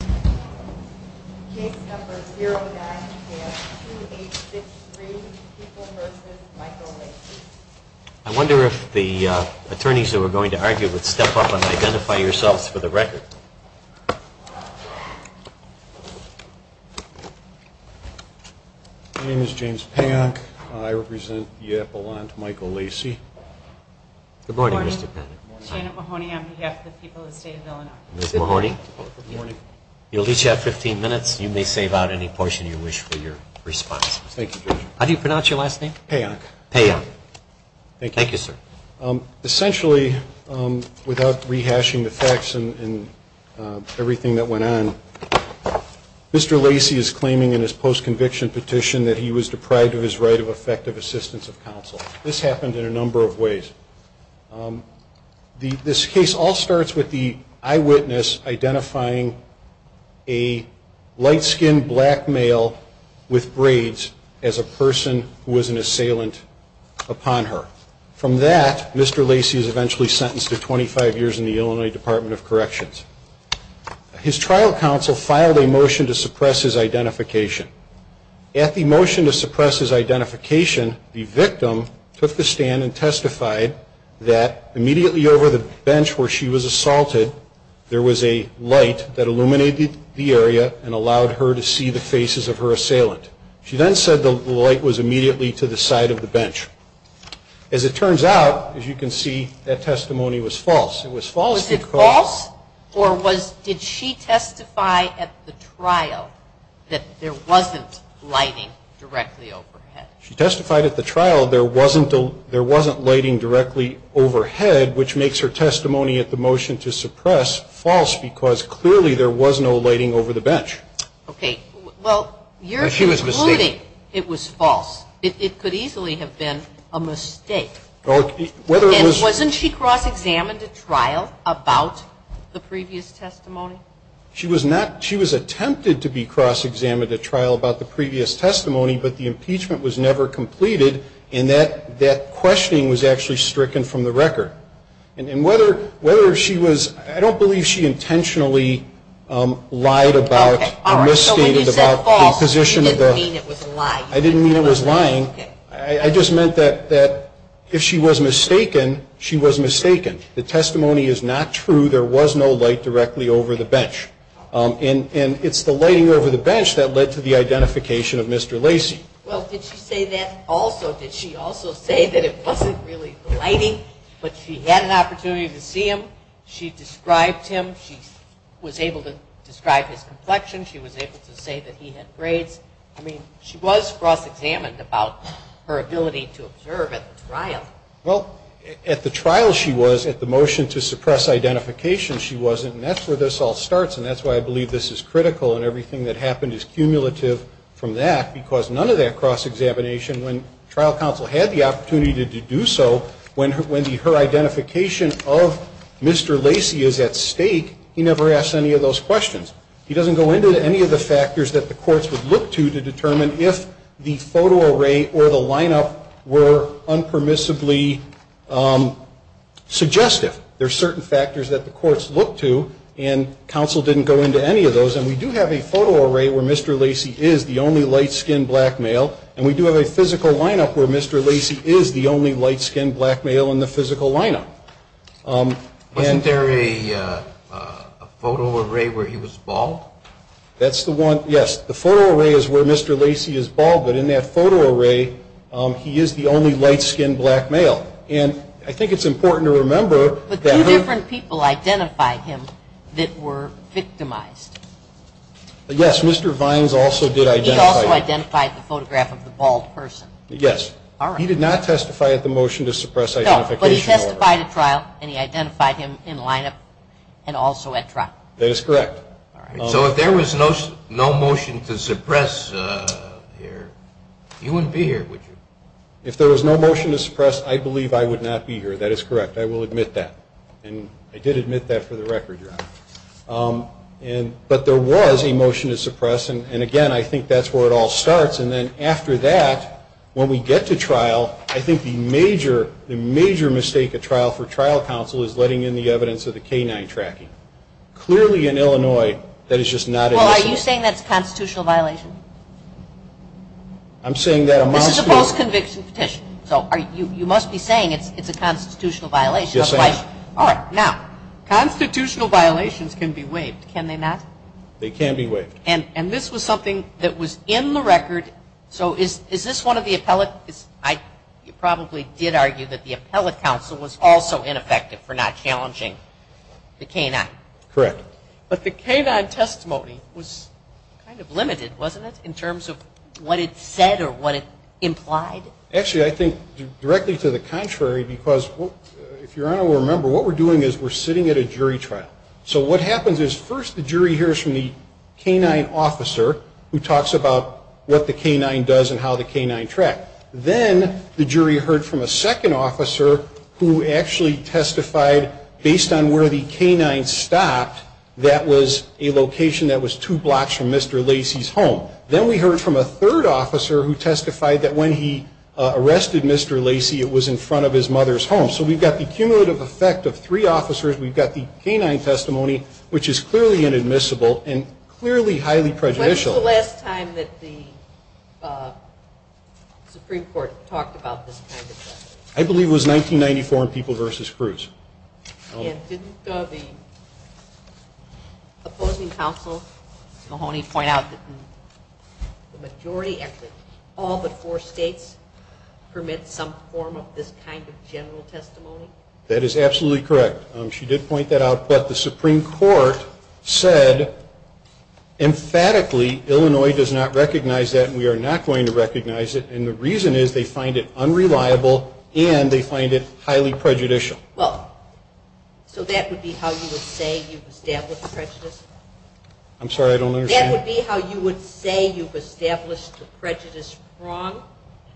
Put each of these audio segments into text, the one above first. I wonder if the attorneys that were going to argue would step up and identify yourselves for the record. My name is James Pank. I represent the appellant Michael Lacy. Good morning, Mr. Pank. Good morning. Janet Mahoney on behalf of the people of the state of Illinois. Ms. Mahoney. Good morning. You'll each have 15 minutes. You may save out any portion you wish for your response. Thank you, James. How do you pronounce your last name? Payonk. Payonk. Thank you. Thank you, sir. Essentially, without rehashing the facts and everything that went on, Mr. Lacy is claiming in his post-conviction petition that he was deprived of his right of effective assistance of counsel. This happened in a number of ways. First, this case all starts with the eyewitness identifying a light-skinned black male with braids as a person who was an assailant upon her. From that, Mr. Lacy is eventually sentenced to 25 years in the Illinois Department of Corrections. His trial counsel filed a motion to suppress his identification. At the motion to suppress his identification, the victim took the stand and testified that immediately over the bench where she was assaulted, there was a light that illuminated the area and allowed her to see the faces of her assailant. She then said the light was immediately to the side of the bench. As it turns out, as you can see, that testimony was false. It was false because... She testified at the trial, there wasn't lighting directly overhead, which makes her testimony at the motion to suppress false because clearly there was no lighting over the bench. Okay. Well, you're concluding it was false. It could easily have been a mistake. And wasn't she cross-examined at trial about the previous testimony? She was not. She was attempted to be cross-examined at trial about the previous testimony, but the impeachment was never completed and that questioning was actually stricken from the record. And whether she was, I don't believe she intentionally lied about or misstated about the position of the... Okay. All right. So when you said false, you didn't mean it was a lie. I didn't mean it was lying. I just meant that if she was mistaken, she was mistaken. The testimony is not true. There was no light directly over the bench. And it's the lighting over the bench that led to the identification of Mr. Lacey. Well, did she say that also? Did she also say that it wasn't really the lighting, but she had an opportunity to see him? She described him. She was able to describe his complexion. She was able to say that he had grades. I mean, she was cross-examined about her ability to observe at the trial. Well, at the trial she was. At the motion to suppress identification, she wasn't. And that's where this all starts. And that's why I believe this is critical. And everything that happened is cumulative from that. Because none of that cross-examination, when trial counsel had the opportunity to do so, when her identification of Mr. Lacey is at stake, he never asks any of those questions. He doesn't go into any of the factors that the courts would look to to determine if the photo array or the lineup were unpermissibly suggestive. There are certain factors that the courts look to, and counsel didn't go into any of those. And we do have a photo array where Mr. Lacey is the only light-skinned black male. And we do have a physical lineup where Mr. Lacey is the only light-skinned black male in the physical lineup. Wasn't there a photo array where he was bald? That's the one, yes. The photo array is where Mr. Lacey is bald, but in that photo array he is the only light-skinned black male. And I think it's important to remember But two different people identified him that were victimized. Yes, Mr. Vines also did identify him. He also identified the photograph of the bald person. Yes. He did not testify at the motion to suppress identification order. No, but he testified at trial and he identified him in lineup and also at trial. That is correct. So if there was no motion to suppress here, you wouldn't be here, would you? If there was no motion to suppress, I believe I would not be here. That is correct. I will admit that. And I did admit that for the record, Your Honor. But there was a motion to suppress, and again, I think that's where it all starts. And then after that, when we get to trial, I think the major mistake at trial for trial counsel is letting in the evidence of the canine tracking. Clearly in Illinois, that is just not an issue. Well, are you saying that's a constitutional violation? I'm saying that amongst... This is a post-conviction petition. So you must be saying it's a constitutional violation. Yes, I am. All right. Now, constitutional violations can be waived. Can they not? They can be waived. And this was something that was in the record. So is this one of the appellate... You probably did argue that the appellate counsel was also ineffective for not challenging the canine. Correct. But the canine testimony was kind of limited, wasn't it, in terms of what it said or what it implied? Actually, I think directly to the contrary, because if Your Honor will remember, what we're doing is we're sitting at a jury trial. So what happens is first the jury hears from the canine officer who talks about what the canine does and how the canine tracked. Then the jury heard from a second officer who actually testified based on where the canine stopped, that was a location that was two blocks from Mr. Lacey's home. Then we heard from a third officer who testified that when he arrested Mr. Lacey, it was in front of his mother's home. So we've got the cumulative effect of three officers. We've got the canine testimony, which is clearly inadmissible and clearly highly prejudicial. When was the last time that the Supreme Court talked about this kind of thing? I believe it was 1994 in People v. Cruz. And didn't the opposing counsel Mahoney point out that the majority, actually all but four states, permit some form of this kind of general testimony? That is absolutely correct. She did point that out. But the Supreme Court said emphatically Illinois does not recognize that and we are not going to recognize it. And the reason is they find it unreliable and they find it highly prejudicial. Well, so that would be how you would say you've established prejudice? I'm sorry, I don't understand. That would be how you would say you've established the prejudice wrong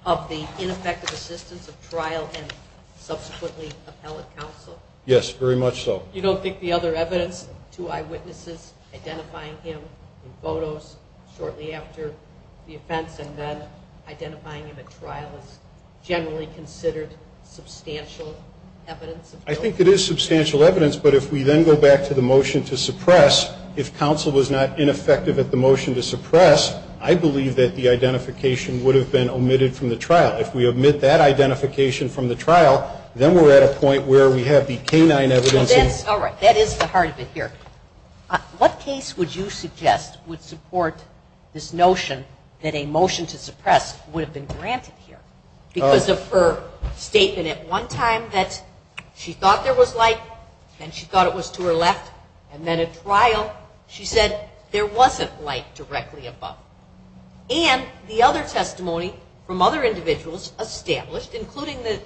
of the ineffective assistance of trial and subsequently appellate counsel? Yes, very much so. You don't think the other evidence, two eyewitnesses identifying him in photos shortly after the offense and then identifying him at trial is generally considered substantial evidence? I think it is substantial evidence. But if we then go back to the motion to suppress, if counsel was not ineffective at the motion to suppress, I believe that the identification would have been omitted from the trial. If we omit that identification from the trial, then we're at a point where we have the canine evidence. All right. That is the heart of it here. What case would you suggest would support this notion that a motion to suppress would have been granted here because of her statement at one time that she thought there was light and she thought it was to her left, and then at trial she said there wasn't light directly above. And the other testimony from other individuals established, including the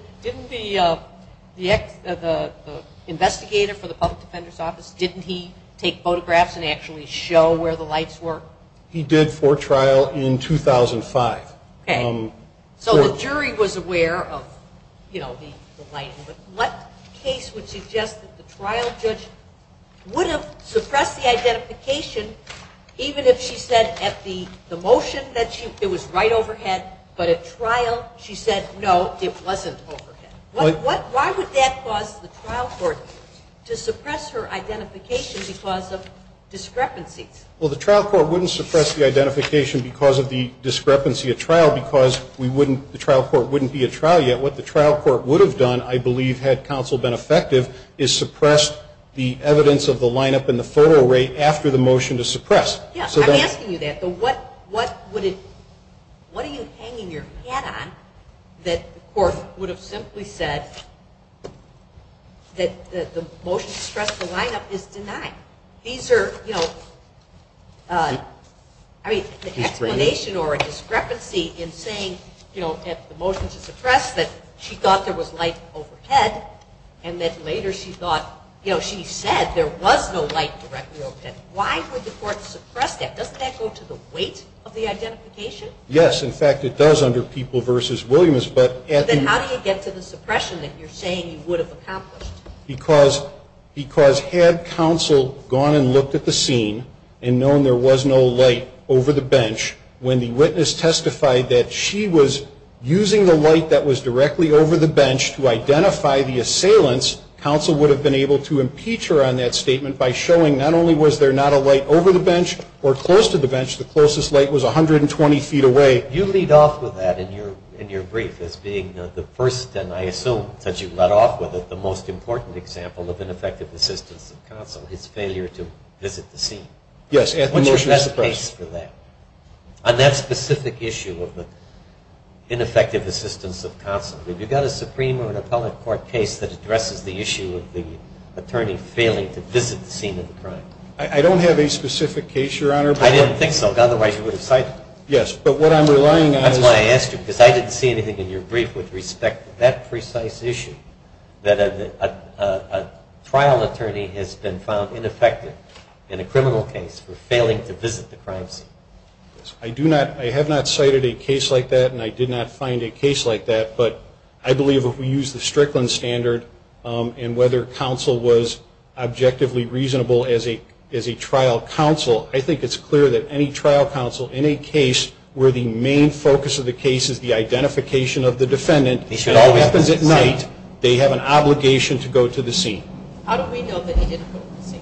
investigator for the public defender's office, didn't he take photographs and actually show where the lights were? He did for trial in 2005. Okay. So the jury was aware of, you know, the light. But what case would suggest that the trial judge would have suppressed the identification even if she said at the motion that it was right overhead, but at trial she said, no, it wasn't overhead? Why would that cause the trial court to suppress her identification because of discrepancies? Well, the trial court wouldn't suppress the identification because of the discrepancy at trial because the trial court wouldn't be at trial yet. What the trial court would have done, I believe, had counsel been effective, is suppress the evidence of the lineup and the photo array after the motion to suppress. Yeah. I'm asking you that. What are you hanging your hat on that the court would have simply said that the motion to suppress the lineup is denied? These are, you know, I mean, the explanation or a discrepancy in saying, you know, at the motion to suppress that she thought there was light overhead and that later she thought, you know, she said there was no light directly overhead. Why would the court suppress that? Doesn't that go to the weight of the identification? Yes. In fact, it does under People v. Williams, but at the Then how do you get to the suppression that you're saying you would have accomplished? Because had counsel gone and looked at the scene and known there was no light over the bench, when the witness testified that she was using the light that was directly over the bench to identify the assailants, counsel would have been able to impeach her on that statement by showing not only was there not a light over the bench or close to the bench, the closest light was 120 feet away. You lead off with that in your brief as being the first, and I assume that you led off with it, the most important example of ineffective assistance of counsel, his failure to visit the scene. Yes. What's your best case for that? On that specific issue of the ineffective assistance of counsel, have you got a Supreme or an appellate court case that addresses the issue of the attorney failing to visit the scene of the crime? I don't have a specific case, Your Honor. I didn't think so, otherwise you would have cited it. Yes, but what I'm relying on is That's why I asked you, because I didn't see anything in your brief with respect to that precise issue, that a trial attorney has been found ineffective in a criminal case for failing to visit the crime scene. I do not, I have not cited a case like that, and I did not find a case like that, but I believe if we use the Strickland standard and whether counsel was objectively reasonable as a trial counsel, I think it's clear that any trial counsel in a case where the main focus of the case is the defendant, it always happens at night, they have an obligation to go to the scene. How do we know that he didn't go to the scene?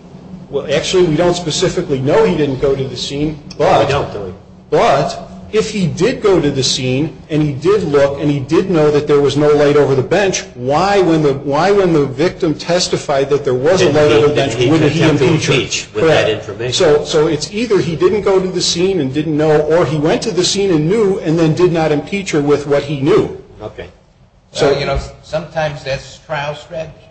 Well, actually, we don't specifically know he didn't go to the scene, but if he did go to the scene and he did look and he did know that there was no light over the bench, why, when the victim testified that there was a light over the bench, wouldn't he impeach her? Correct. So it's either he didn't go to the scene and didn't know, or he went to the scene and knew and then did not impeach her with what he knew. Okay. So, you know, sometimes that's trial strategy.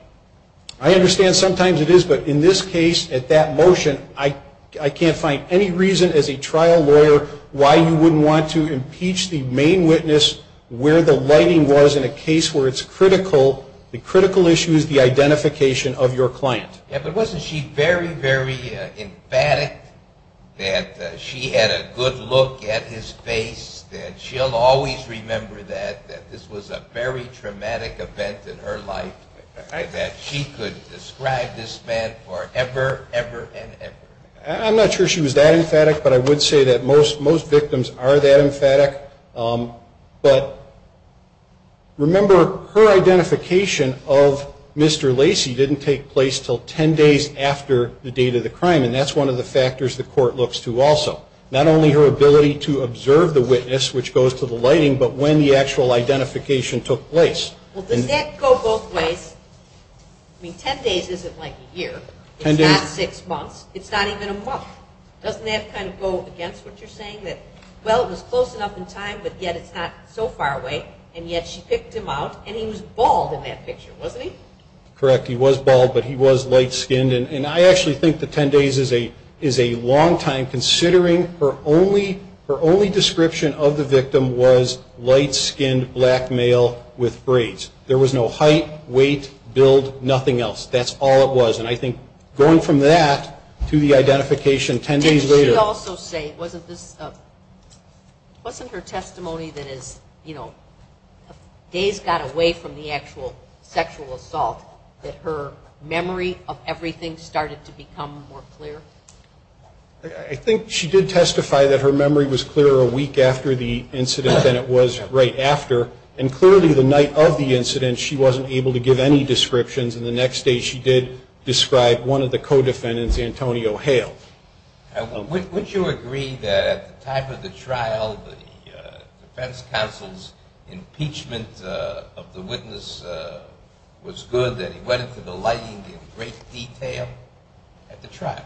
I understand sometimes it is, but in this case, at that motion, I can't find any reason as a trial lawyer why you wouldn't want to impeach the main witness where the lighting was in a case where it's critical, the critical issue is the identification of your client. Yeah, but wasn't she very, very emphatic that she had a good look at his face, that she'll always remember that, that this was a very traumatic event in her life, that she could describe this man forever, ever, and ever? I'm not sure she was that emphatic, but I would say that most victims are that emphatic. But remember, her identification of Mr. Lacy didn't take place until ten days after the date of the crime, and that's one of the factors the court looks to the lighting, but when the actual identification took place. Well, does that go both ways? I mean, ten days isn't like a year. It's not six months. It's not even a month. Doesn't that kind of go against what you're saying, that, well, it was close enough in time, but yet it's not so far away, and yet she picked him out, and he was bald in that picture, wasn't he? Correct. He was bald, but he was light-skinned, and I actually think that ten days is a long time, considering her only description of the victim was light-skinned, black male with braids. There was no height, weight, build, nothing else. That's all it was, and I think going from that to the identification ten days later. Didn't she also say, wasn't this, wasn't her testimony that is, you know, days got away from the actual sexual assault, that her memory of everything started to become more clear? I think she did testify that her memory was clearer a week after the incident than it was right after, and clearly the night of the incident, she wasn't able to give any descriptions, and the next day she did describe one of the co-defendants, Antonio Hale. Would you agree that at the time of the trial, the defense counsel's impeachment of the witness was good, that he went into the lighting in great detail at the trial?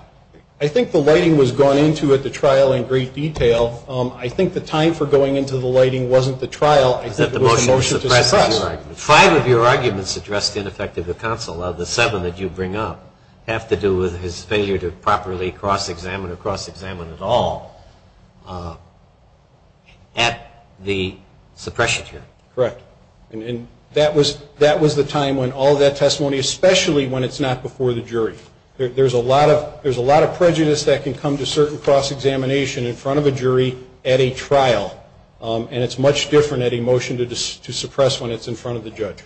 I think the lighting was gone into at the trial in great detail. I think the time for going into the lighting wasn't the trial. I think it was the motion to suppress. Five of your arguments address the ineffectiveness of the counsel. The seven that you bring up have to do with his failure to properly cross- examine or cross-examine at all at the suppression hearing. Correct. And that was the time when all of that testimony, especially when it's not before the jury. There's a lot of prejudice that can come to certain cross-examination in front of a jury at a trial, and it's much different at a motion to suppress when it's in front of the judge.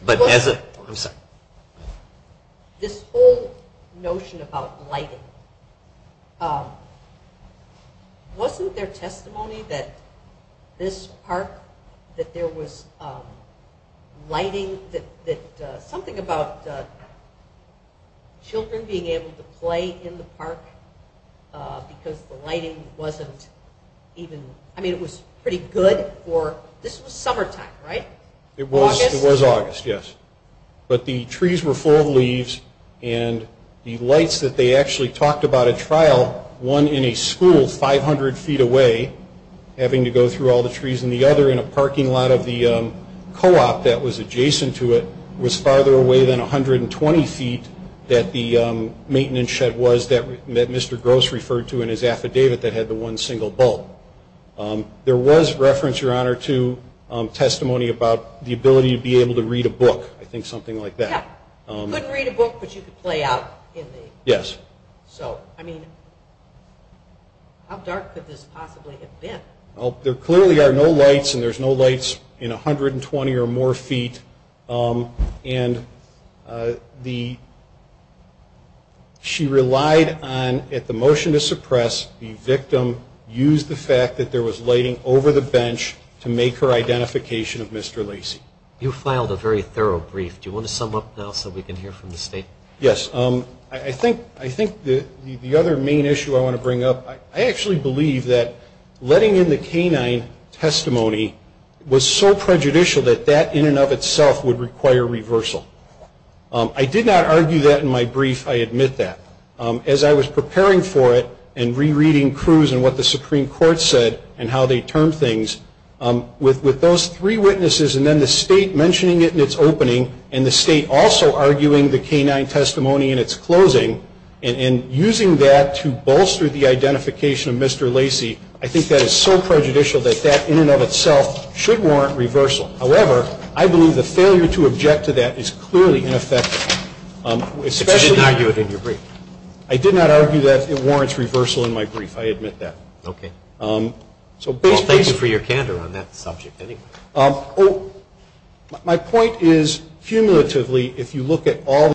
This whole notion about lighting, wasn't there testimony that this park, that there was lighting, that something about children being able to play in the park because the lighting wasn't even, I mean, it was pretty good for, this was summertime, right? It was August. Yes. But the trees were full of leaves, and the lights that they actually talked about at trial, one in a school 500 feet away, having to go through all the trees, and the other in a parking lot of the co-op that was adjacent to it was farther away than 120 feet that the maintenance shed was that Mr. Gross referred to in his affidavit that had the one single bulb. There was reference, Your Honor, to testimony about the ability to be able to read a book. I think something like that. Yeah. You couldn't read a book, but you could play out. Yes. So, I mean, how dark could this possibly have been? Well, there clearly are no lights, and there's no lights in 120 or more feet, and the, she relied on, at the motion to suppress, the victim used the fact that there was lighting over the bench to make her identification of Mr. Lacey. You filed a very thorough brief. Do you want to sum up now so we can hear from the State? Yes. I think the other main issue I want to bring up, I actually believe that letting in the canine testimony was so prejudicial that that in and of itself would require reversal. I did not argue that in my brief. I admit that. As I was preparing for it and rereading Cruz and what the Supreme Court said and how they termed things, with those three witnesses and then the State mentioning it in its opening and the State also arguing the canine testimony in its closing and using that to bolster the identification of Mr. Lacey, I think that is so prejudicial that that in and of itself should warrant reversal. However, I believe the failure to object to that is clearly ineffective, especially in your brief. I did not argue that it warrants reversal in my brief. I admit that. Okay. Well, thank you for your candor on that subject, anyway. My point is, cumulatively, if you look at all the cases,